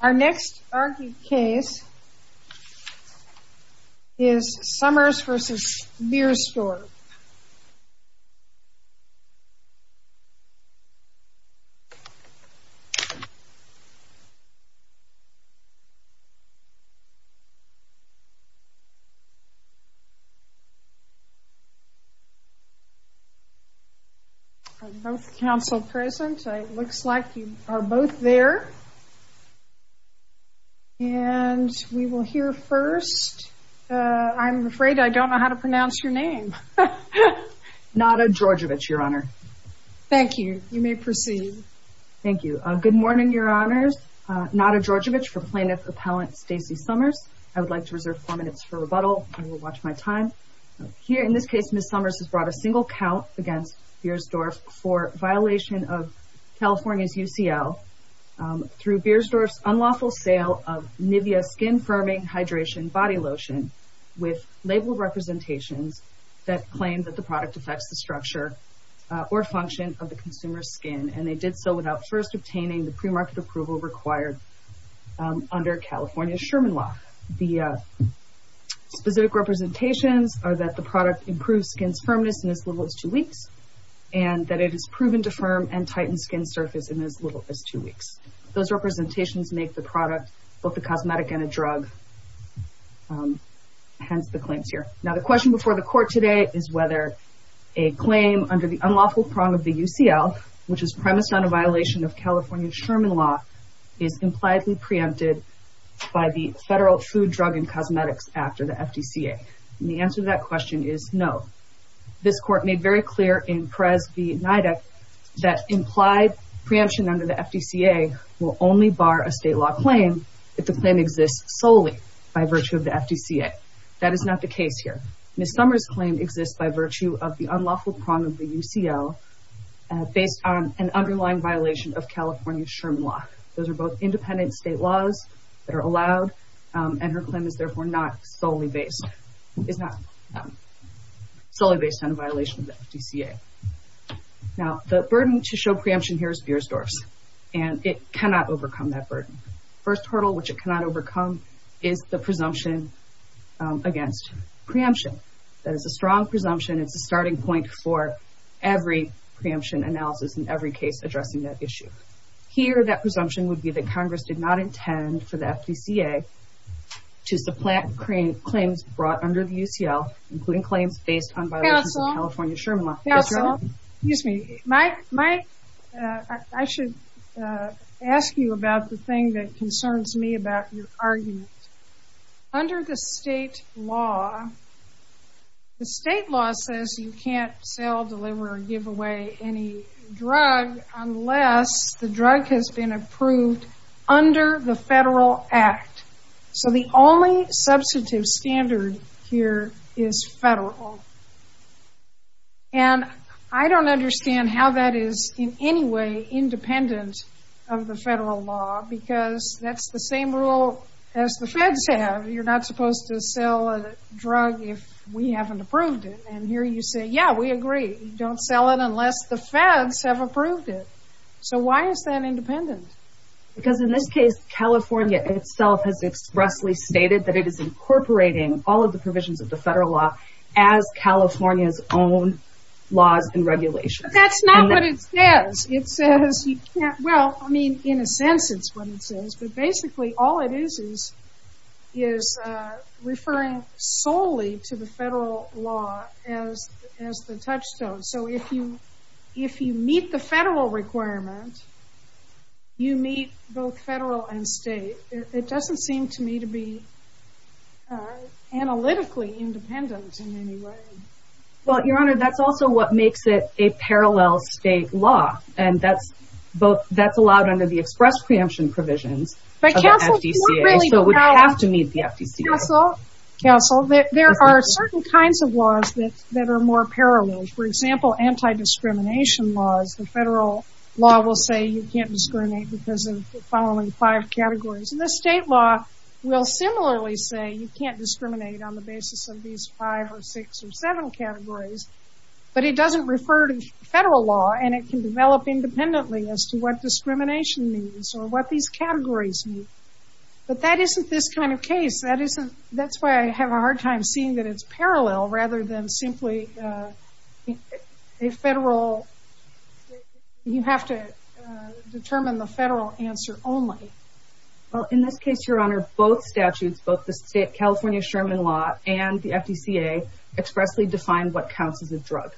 Our next argued case is Somers v. Beiersdorf. Are both counsel present? It looks like you are both there. And we will hear first, I'm afraid I don't know how to pronounce your name. Nada Djordovich, Your Honor. Thank you. You may proceed. Thank you. Good morning, Your Honors. Nada Djordovich for plaintiff appellant Stacie Somers. I would like to reserve four minutes for rebuttal. I will watch my time. Here in this case Ms. Somers has brought a single count against Beiersdorf for violation of California's UCL through Beiersdorf's unlawful sale of Nivea skin firming hydration body lotion with labeled representations that claim that the product affects the structure or function of the consumer's skin. And they did so without first obtaining the premarket approval required under California's Sherman law. The specific representations are that the product improves skin's firmness in as little as two weeks and that it is proven to firm and tighten skin surface in as little as two weeks. Those representations make the product both a cosmetic and a drug, hence the claims here. Now the question before the court today is whether a claim under the unlawful prong of the UCL, which is premised on a violation of California's Sherman law, is impliedly preempted by the Federal Food, Drug, and Cosmetics Act or the FDCA. And the answer to that question is no. This court made very clear in Perez v. NIDA that implied preemption under the FDCA will only bar a state law claim if the claim exists solely by virtue of the FDCA. That is not the case here. Ms. Summers' claim exists by virtue of the unlawful prong of the UCL based on an underlying violation of California's Sherman law. Those are both independent state laws that are allowed, and her claim is therefore not solely based on a violation of the FDCA. Now the burden to show preemption here is Biersdorf's, and it cannot overcome that burden. The first hurdle which it cannot overcome is the presumption against preemption. That is a strong presumption. It's a starting point for every preemption analysis in every case addressing that issue. Here that presumption would be that Congress did not intend for the FDCA to supplant claims brought under the UCL, including claims based on violations of California's Sherman law. Excuse me. I should ask you about the thing that concerns me about your argument. Under the state law, the state law says you can't sell, deliver, or give away any drug unless the drug has been approved under the federal act. So the only substantive standard here is federal. And I don't understand how that is in any way independent of the federal law because that's the same rule as the feds have. You're not supposed to sell a drug if we haven't approved it. And here you say, yeah, we agree. You don't sell it unless the feds have approved it. So why is that independent? Because in this case, California itself has expressly stated that it is incorporating all of the provisions of the federal law as California's own laws and regulations. But that's not what it says. Well, I mean, in a sense it's what it says, but basically all it is is referring solely to the federal law as the touchstone. So if you meet the federal requirement, you meet both federal and state. It doesn't seem to me to be analytically independent in any way. Well, Your Honor, that's also what makes it a parallel state law, and that's allowed under the express preemption provisions of the FDCA. So we have to meet the FDCA. Counsel, there are certain kinds of laws that are more parallel. For example, anti-discrimination laws, the federal law will say you can't discriminate because of the following five categories. And the state law will similarly say you can't discriminate on the basis of these five or six or seven categories. But it doesn't refer to the federal law, and it can develop independently as to what discrimination means or what these categories mean. But that isn't this kind of case. That's why I have a hard time seeing that it's parallel rather than simply a federal state. You have to determine the federal answer only. Well, in this case, Your Honor, both statutes, both the California Sherman Law and the FDCA expressly define what counts as a drug.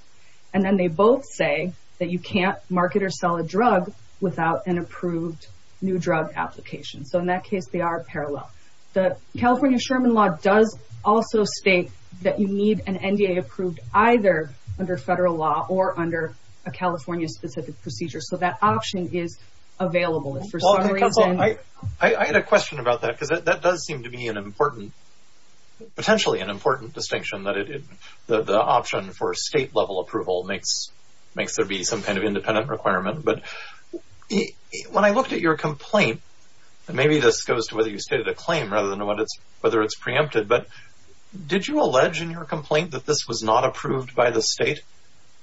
And then they both say that you can't market or sell a drug without an approved new drug application. So in that case, they are parallel. The California Sherman Law does also state that you need an NDA approved either under federal law or under a California-specific procedure. So that option is available for some reason. I had a question about that because that does seem to be an important, potentially an important distinction that the option for state-level approval makes there be some kind of independent requirement. But when I looked at your complaint, and maybe this goes to whether you stated a claim rather than whether it's preempted, but did you allege in your complaint that this was not approved by the state?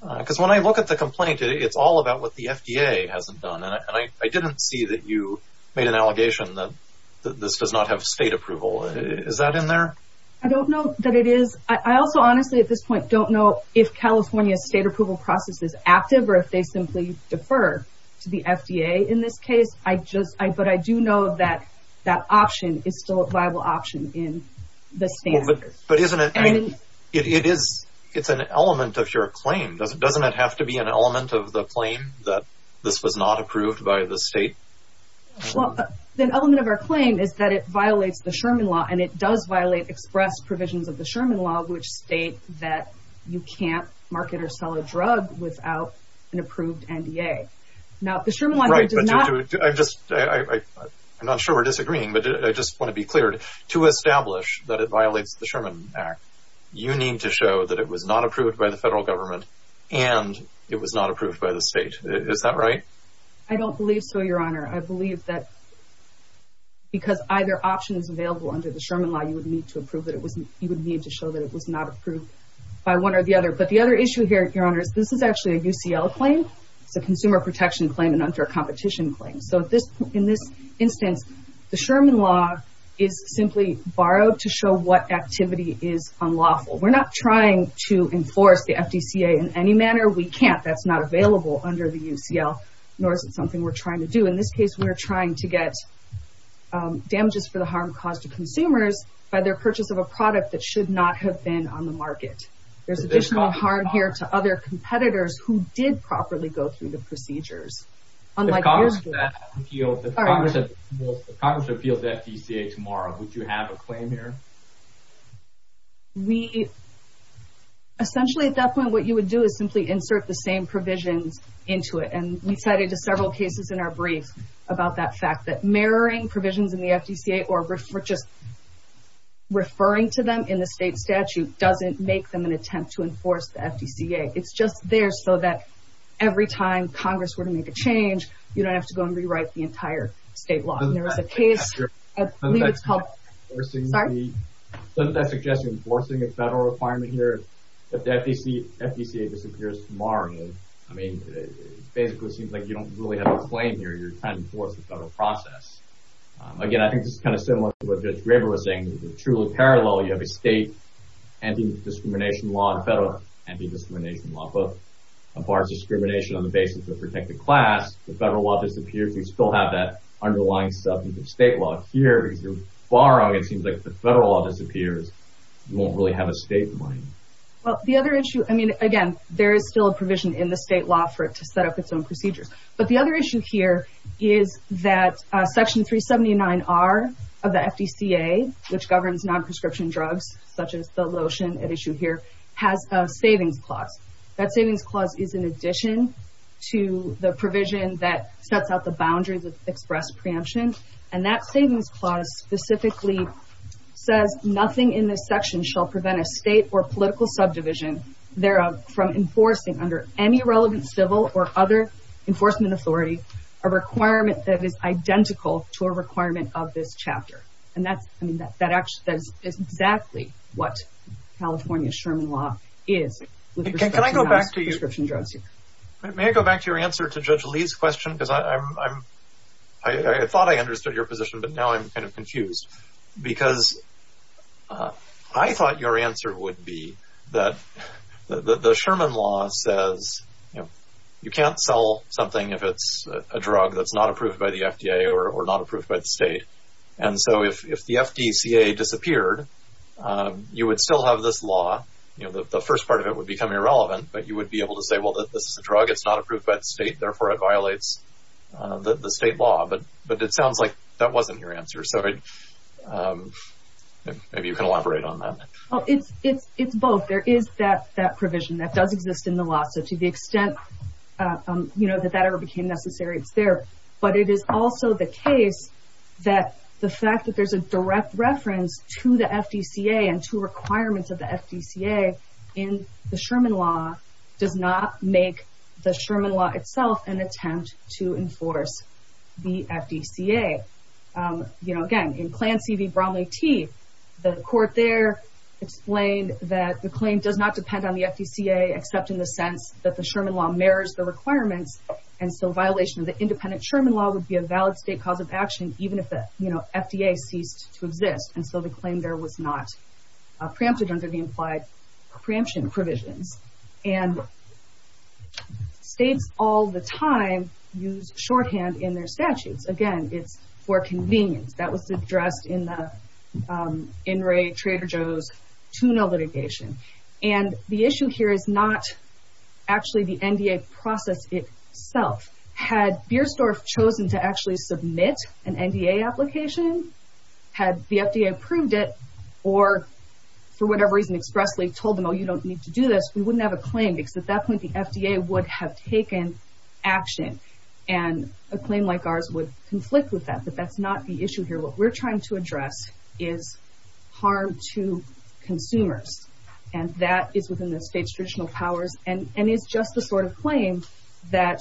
Because when I look at the complaint, it's all about what the FDA hasn't done. And I didn't see that you made an allegation that this does not have state approval. Is that in there? I don't know that it is. I also honestly at this point don't know if California's state approval process is active or if they simply defer to the FDA in this case. But I do know that that option is still a viable option in the standard. But isn't it an element of your claim? Doesn't it have to be an element of the claim that this was not approved by the state? The element of our claim is that it violates the Sherman Law, and it does violate express provisions of the Sherman Law, which state that you can't market or sell a drug without an approved NDA. I'm not sure we're disagreeing, but I just want to be clear. To establish that it violates the Sherman Act, you need to show that it was not approved by the federal government and it was not approved by the state. Is that right? I don't believe so, Your Honor. I believe that because either option is available under the Sherman Law, you would need to show that it was not approved by one or the other. But the other issue here, Your Honor, is this is actually a UCL claim. It's a consumer protection claim and under a competition claim. So in this instance, the Sherman Law is simply borrowed to show what activity is unlawful. We're not trying to enforce the FDCA in any manner. We can't. That's not available under the UCL, nor is it something we're trying to do. In this case, we're trying to get damages for the harm caused to consumers by their purchase of a product that should not have been on the market. There's additional harm here to other competitors who did properly go through the procedures. If Congress appeals the FDCA tomorrow, would you have a claim here? Essentially, at that point, what you would do is simply insert the same provisions into it. And we cited several cases in our brief about that fact, that mirroring provisions in the FDCA or just referring to them in the state statute doesn't make them an attempt to enforce the FDCA. It's just there so that every time Congress were to make a change, you don't have to go and rewrite the entire state law. And there was a case— Doesn't that suggest enforcing a federal requirement here that the FDCA disappears tomorrow? I mean, it basically seems like you don't really have a claim here. You're trying to enforce the federal process. Again, I think this is kind of similar to what Judge Graber was saying. It's truly parallel. You have a state anti-discrimination law and a federal anti-discrimination law. But as far as discrimination on the basis of protected class, the federal law disappears. We still have that underlying substance of state law here. If you're borrowing, it seems like if the federal law disappears, you won't really have a state in mind. Well, the other issue— I mean, again, there is still a provision in the state law for it to set up its own procedures. But the other issue here is that Section 379R of the FDCA, which governs non-prescription drugs, such as the lotion at issue here, has a savings clause. That savings clause is in addition to the provision that sets out the boundaries of express preemption. And that savings clause specifically says, nothing in this section shall prevent a state or political subdivision thereof from enforcing under any relevant civil or other enforcement authority a requirement that is identical to a requirement of this chapter. And that's—I mean, that is exactly what California's Sherman law is with respect to non-prescription drugs. Can I go back to you— May I go back to your answer to Judge Lee's question? Because I thought I understood your position, but now I'm kind of confused. Because I thought your answer would be that the Sherman law says, you know, you can't sell something if it's a drug that's not approved by the FDA or not approved by the state. And so if the FDCA disappeared, you would still have this law. You know, the first part of it would become irrelevant, but you would be able to say, well, this is a drug, it's not approved by the state, therefore it violates the state law. But it sounds like that wasn't your answer. So maybe you can elaborate on that. It's both. There is that provision that does exist in the law. So to the extent, you know, that that ever became necessary, it's there. But it is also the case that the fact that there's a direct reference to the FDCA and to requirements of the FDCA in the Sherman law does not make the Sherman law itself an attempt to enforce the FDCA. You know, again, in Clan C.V. Bromley T., the court there explained that the claim does not depend on the FDCA except in the sense that the Sherman law mirrors the requirements. And so violation of the independent Sherman law would be a valid state cause of action even if the, you know, FDA ceased to exist. And so the claim there was not preempted under the implied preemption provisions. And states all the time use shorthand in their statutes. Again, it's for convenience. That was addressed in the In re Trader Joe's tuna litigation. And the issue here is not actually the NDA process itself. Had Bierstorff chosen to actually submit an NDA application, had the FDA approved it or for whatever reason expressly told them, oh, you don't need to do this, we wouldn't have a claim because at that point the FDA would have taken action and a claim like ours would conflict with that. But that's not the issue here. What we're trying to address is harm to consumers. And that is within the state's traditional powers and is just the sort of claim that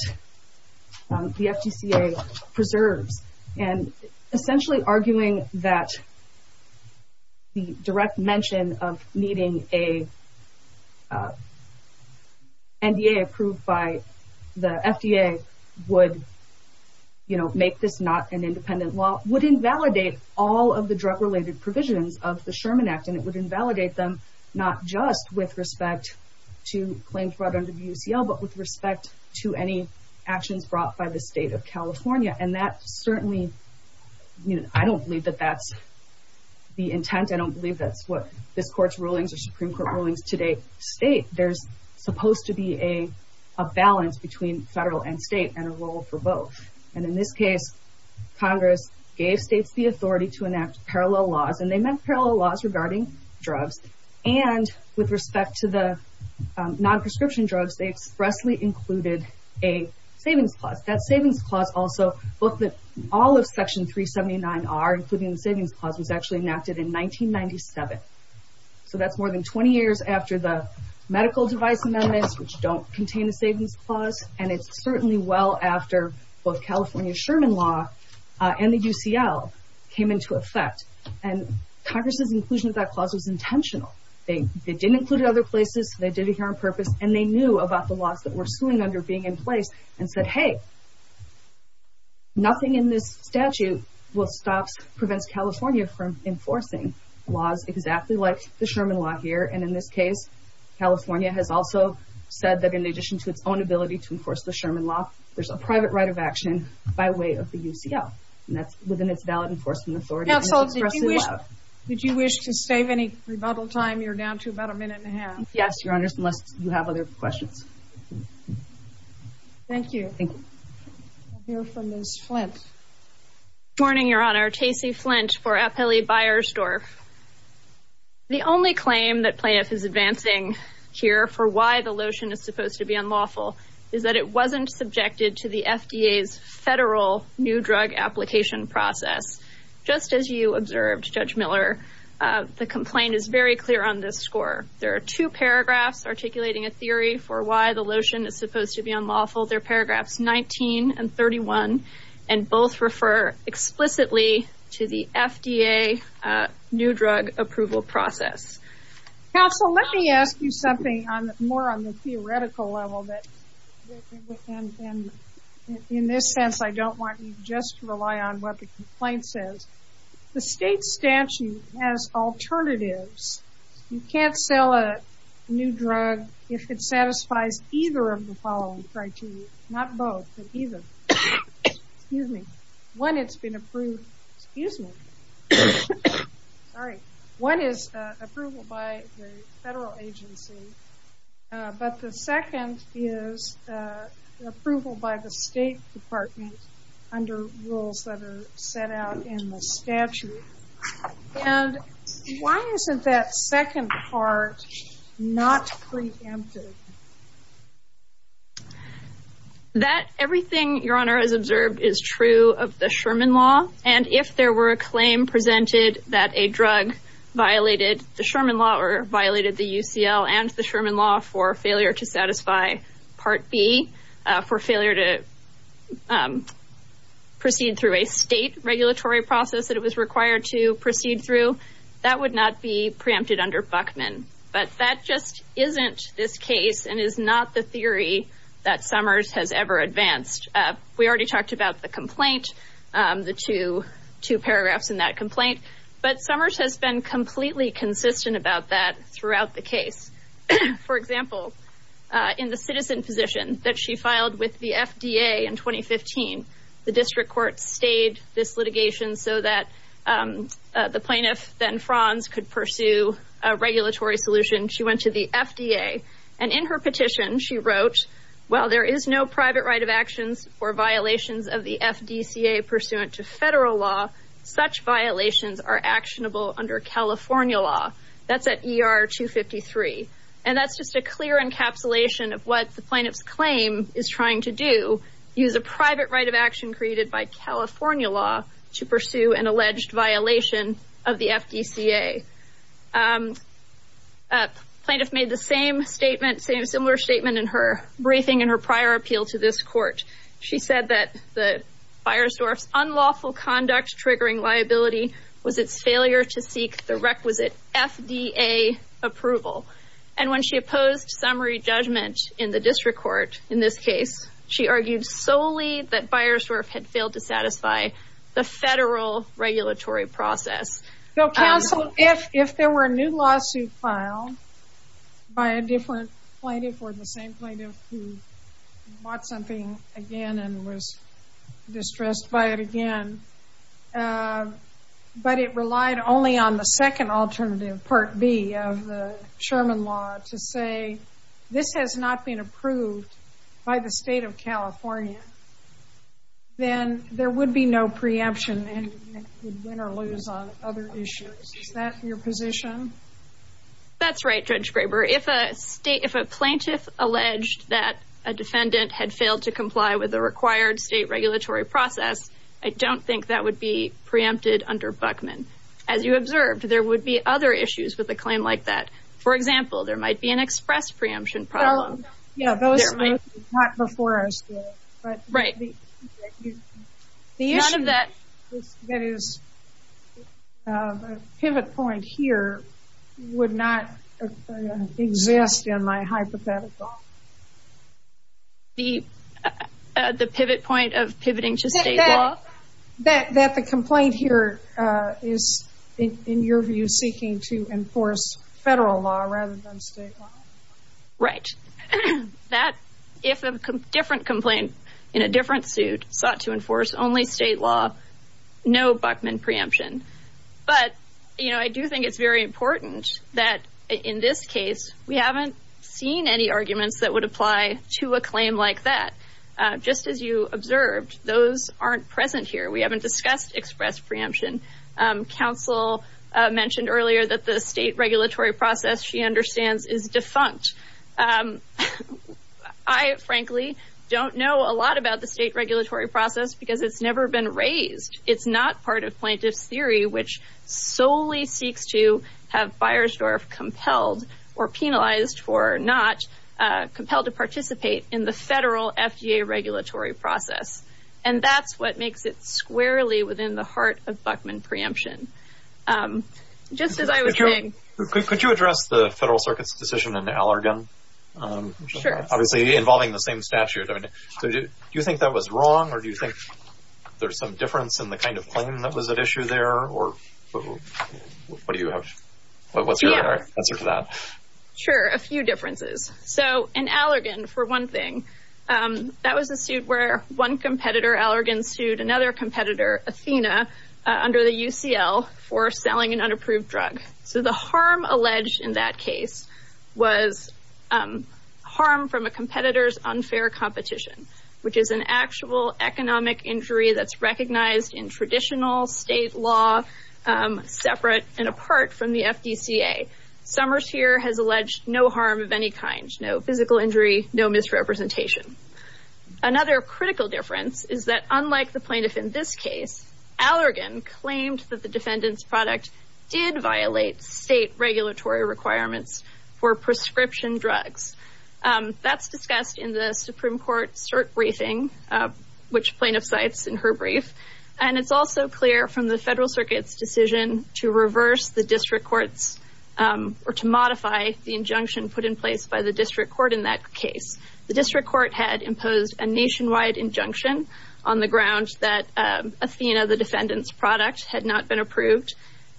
the FDCA preserves. And essentially arguing that the direct mention of needing a NDA approved by the FDA would make this not an independent law, would invalidate all of the drug-related provisions of the Sherman Act. And it would invalidate them not just with respect to claims brought under the UCL, but with respect to any actions brought by the state of California. And that certainly, I don't believe that that's the intent. I don't believe that's what this Court's rulings or Supreme Court rulings today state. There's supposed to be a balance between federal and state and a role for both. And in this case, Congress gave states the authority to enact parallel laws, and they meant parallel laws regarding drugs. And with respect to the non-prescription drugs, they expressly included a savings clause. That savings clause also looked at all of Section 379R, including the savings clause, was actually enacted in 1997. So that's more than 20 years after the medical device amendments, which don't contain a savings clause, and it's certainly well after both California's Sherman Law and the UCL came into effect. And Congress's inclusion of that clause was intentional. They didn't include it in other places, they did it here on purpose, and they knew about the laws that were suing under being in place and said, hey, nothing in this statute will stop, prevents California from enforcing laws exactly like the Sherman Law here, and in this case, California has also said that in addition to its own ability to enforce the Sherman Law, there's a private right of action by way of the UCL. And that's within its valid enforcement authority. Counsel, would you wish to save any rebuttal time? You're down to about a minute and a half. Yes, Your Honors, unless you have other questions. Thank you. Thank you. We'll hear from Ms. Flint. Good morning, Your Honor. Tacey Flint for FLE Beiersdorf. The only claim that PLAIF is advancing here for why the lotion is supposed to be unlawful is that it wasn't subjected to the FDA's federal new drug application process. Just as you observed, Judge Miller, the complaint is very clear on this score. There are two paragraphs articulating a theory for why the lotion is supposed to be unlawful. They're paragraphs 19 and 31, and both refer explicitly to the FDA new drug approval process. Counsel, let me ask you something more on the theoretical level. In this sense, I don't want you just to rely on what the complaint says. The state statute has alternatives. You can't sell a new drug if it satisfies either of the following criteria. Not both, but either. Excuse me. One, it's been approved. Excuse me. Sorry. One is approval by the federal agency, but the second is approval by the state department under rules that are set out in the statute. And why isn't that second part not preempted? Everything, Your Honor, as observed is true of the Sherman Law, and if there were a claim presented that a drug violated the Sherman Law or violated the UCL and the Sherman Law for failure to satisfy Part B, for failure to proceed through a state regulatory process that it was required to proceed through, that would not be preempted under Buckman. But that just isn't this case and is not the theory that Summers has ever advanced. We already talked about the complaint, the two paragraphs in that complaint, but Summers has been completely consistent about that throughout the case. For example, in the citizen position that she filed with the FDA in 2015, the district court stayed this litigation so that the plaintiff, then Franz, could pursue a regulatory solution. She went to the FDA, and in her petition she wrote, while there is no private right of actions or violations of the FDCA pursuant to federal law, such violations are actionable under California law. That's at ER 253. And that's just a clear encapsulation of what the plaintiff's claim is trying to do, use a private right of action created by California law to pursue an alleged violation of the FDCA. The plaintiff made the same statement, a similar statement in her briefing in her prior appeal to this court. She said that Biersdorf's unlawful conduct triggering liability was its failure to seek the requisite FDA approval. And when she opposed summary judgment in the district court in this case, she argued solely that Biersdorf had failed to satisfy the federal regulatory process. So, counsel, if there were a new lawsuit filed by a different plaintiff or the same plaintiff who bought something again and was distressed by it again, but it relied only on the second alternative, Part B of the Sherman law, to say this has not been approved by the state of California, then there would be no preemption and you would win or lose on other issues. Is that your position? That's right, Judge Graber. If a plaintiff alleged that a defendant had failed to comply with the required state regulatory process, I don't think that would be preempted under Buckman. As you observed, there would be other issues with a claim like that. For example, there might be an express preemption problem. Yeah, those are not before us yet. Right. The issue that is a pivot point here would not exist in my hypothetical. The pivot point of pivoting to state law? That the complaint here is, in your view, seeking to enforce federal law rather than state law. Right. If a different complaint in a different suit sought to enforce only state law, no Buckman preemption. But I do think it's very important that, in this case, we haven't seen any arguments that would apply to a claim like that. Just as you observed, those aren't present here. We haven't discussed express preemption. Counsel mentioned earlier that the state regulatory process, she understands, is defunct. I, frankly, don't know a lot about the state regulatory process because it's never been raised. It's not part of plaintiff's theory, which solely seeks to have Beiersdorf compelled or penalized for not compelled to participate in the federal FDA regulatory process. And that's what makes it squarely within the heart of Buckman preemption. Just as I was saying. Could you address the Federal Circuit's decision in Allergan? Sure. Obviously involving the same statute. Do you think that was wrong or do you think there's some difference in the kind of claim that was at issue there? Or what do you have? What's your answer to that? Sure. A few differences. So in Allergan, for one thing, that was a suit where one competitor, Allergan, sued another competitor, Athena, under the UCL for selling an unapproved drug. So the harm alleged in that case was harm from a competitor's unfair competition, which is an actual economic injury that's recognized in traditional state law separate and apart from the FDCA. Summers here has alleged no harm of any kind, no physical injury, no misrepresentation. Another critical difference is that unlike the plaintiff in this case, Allergan claimed that the defendant's product did violate state regulatory requirements for prescription drugs. That's discussed in the Supreme Court cert briefing, which plaintiff cites in her brief. And it's also clear from the Federal Circuit's decision to reverse the district court's or to modify the injunction put in place by the district court in that case. The district court had imposed a nationwide injunction on the grounds that Athena, the defendant's product, had not been approved.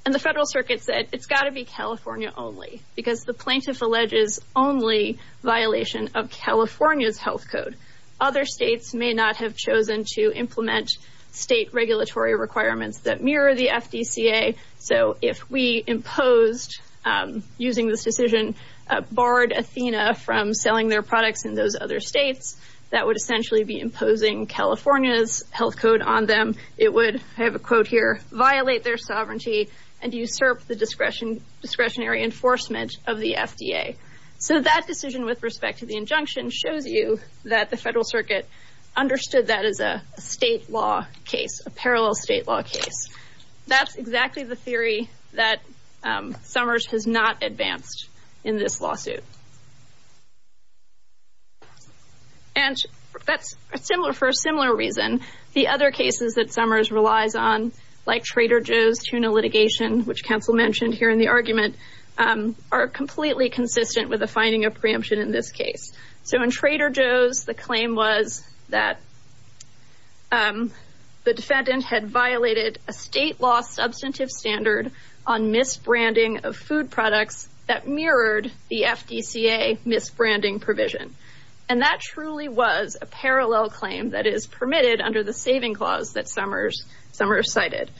And the Federal Circuit said it's got to be California only because the plaintiff alleges only violation of California's health code. Other states may not have chosen to implement state regulatory requirements that mirror the FDCA. So if we imposed using this decision, barred Athena from selling their products in those other states, that would essentially be imposing California's health code on them. It would, I have a quote here, violate their sovereignty and usurp the discretionary enforcement of the FDA. So that decision with respect to the injunction shows you that the Federal Circuit understood that as a state law case, a parallel state law case. That's exactly the theory that Summers has not advanced in this lawsuit. And that's similar for a similar reason. The other cases that Summers relies on, like Trader Joe's tuna litigation, which counsel mentioned here in the argument, are completely consistent with the finding of preemption in this case. So in Trader Joe's, the claim was that the defendant had violated a state law substantive standard on misbranding of food products that mirrored the FDCA misbranding provision. And that truly was a parallel claim that is permitted under the saving clause that Summers cited.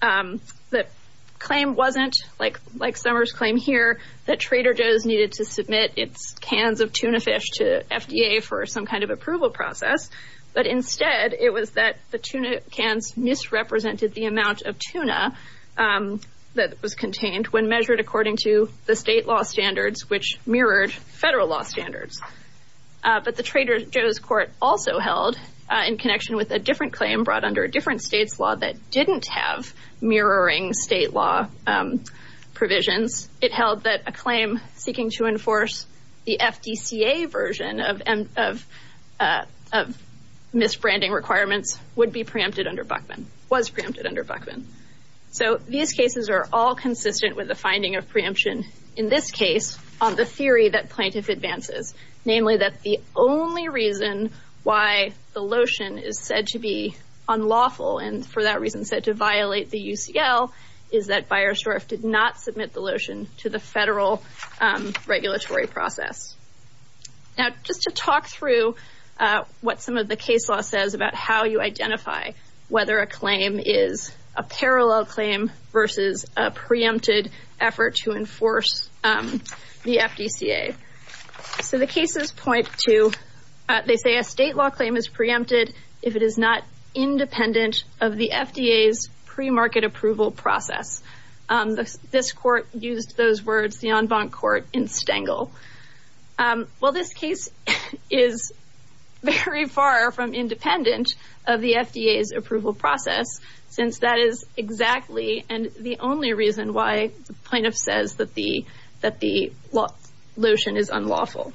The claim wasn't, like Summers' claim here, that Trader Joe's needed to submit its cans of tuna fish to FDA for some kind of approval process. But instead, it was that the tuna cans misrepresented the amount of tuna that was contained when measured according to the state law standards, which mirrored federal law standards. But the Trader Joe's court also held, in connection with a different claim brought under a different state's law that didn't have mirroring state law provisions, it held that a claim seeking to enforce the FDCA version of misbranding requirements would be preempted under Buckman, was preempted under Buckman. So these cases are all consistent with the finding of preemption in this case on the theory that plaintiff advances. Namely, that the only reason why the lotion is said to be unlawful, and for that reason said to violate the UCL, is that Beiersdorf did not submit the lotion to the federal regulatory process. Now, just to talk through what some of the case law says about how you identify whether a claim is a parallel claim versus a preempted effort to enforce the FDCA. So the cases point to, they say a state law claim is preempted if it is not independent of the FDA's premarket approval process. This court used those words, the en banc court, in Stengel. Well, this case is very far from independent of the FDA's approval process, since that is exactly the only reason why the plaintiff says that the lotion is unlawful.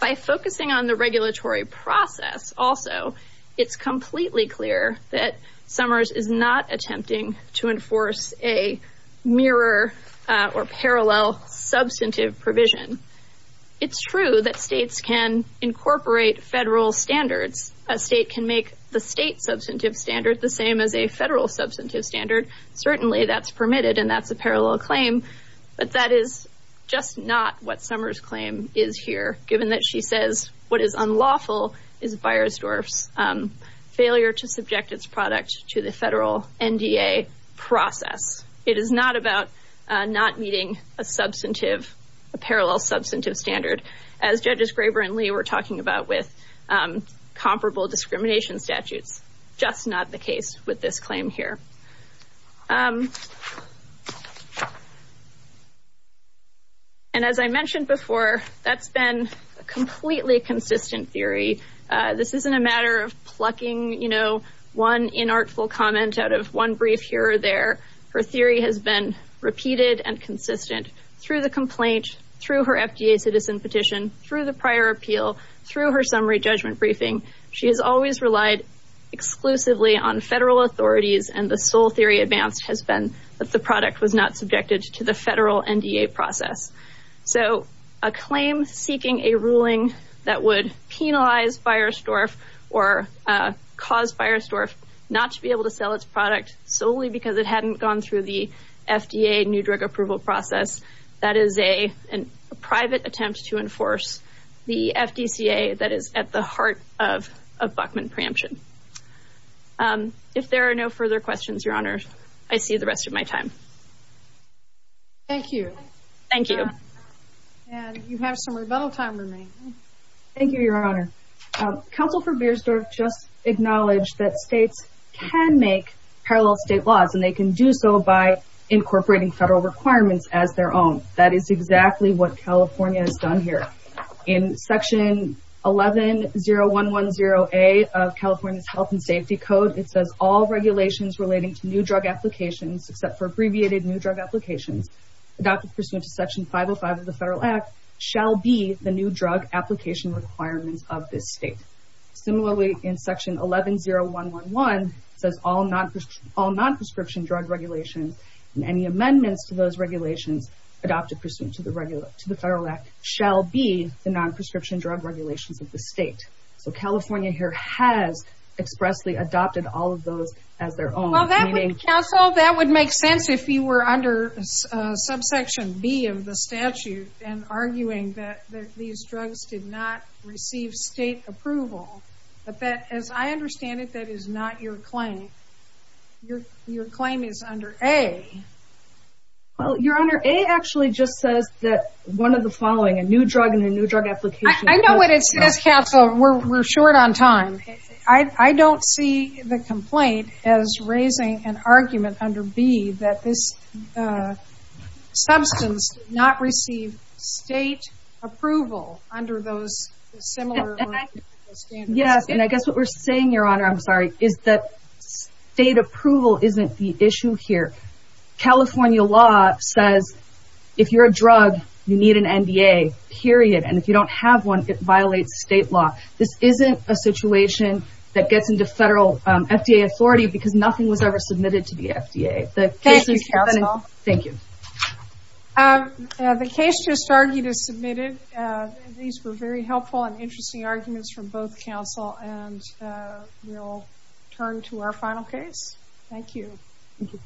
By focusing on the regulatory process also, it's completely clear that Summers is not attempting to enforce a mirror or parallel substantive provision. It's true that states can incorporate federal standards. A state can make the state substantive standard the same as a federal substantive standard. Certainly, that's permitted, and that's a parallel claim, but that is just not what Summers' claim is here, given that she says what is unlawful is Beiersdorf's failure to subject its product to the federal NDA process. It is not about not meeting a substantive, a parallel substantive standard, as Judges Graber and Lee were talking about with comparable discrimination statutes. That's just not the case with this claim here. And as I mentioned before, that's been a completely consistent theory. This isn't a matter of plucking, you know, one inartful comment out of one brief here or there. Her theory has been repeated and consistent through the complaint, through her FDA citizen petition, through the prior appeal, through her summary judgment briefing. She has always relied exclusively on federal authorities, and the sole theory advanced has been that the product was not subjected to the federal NDA process. So a claim seeking a ruling that would penalize Beiersdorf or cause Beiersdorf not to be able to sell its product solely because it hadn't gone through the FDA new drug approval process, that is a private attempt to enforce the FDCA that is at the heart of a Buckman preemption. If there are no further questions, Your Honor, I see the rest of my time. Thank you. Thank you. And you have some rebuttal time remaining. Thank you, Your Honor. Counsel for Beiersdorf just acknowledged that states can make parallel state laws, and they can do so by incorporating federal requirements as their own. That is exactly what California has done here. In Section 110110A of California's Health and Safety Code, it says, All regulations relating to new drug applications, except for abbreviated new drug applications, adopted pursuant to Section 505 of the Federal Act, shall be the new drug application requirements of this state. Similarly, in Section 110111, it says, All non-prescription drug regulations and any amendments to those regulations adopted pursuant to the Federal Act shall be the non-prescription drug regulations of the state. So California here has expressly adopted all of those as their own. Counsel, that would make sense if you were under Subsection B of the statute and arguing that these drugs did not receive state approval. But as I understand it, that is not your claim. Your claim is under A. Well, Your Honor, A actually just says that one of the following, a new drug and a new drug application. I know what it says, Counsel. We're short on time. I don't see the complaint as raising an argument under B that this substance did not receive state approval under those similar standards. Yes, and I guess what we're saying, Your Honor, I'm sorry, is that state approval isn't the issue here. California law says if you're a drug, you need an NDA, period. And if you don't have one, it violates state law. This isn't a situation that gets into federal FDA authority because nothing was ever submitted to the FDA. Thank you, Counsel. Thank you. The case just argued is submitted. These were very helpful and interesting arguments from both counsel. And we'll turn to our final case. Thank you. Thank you.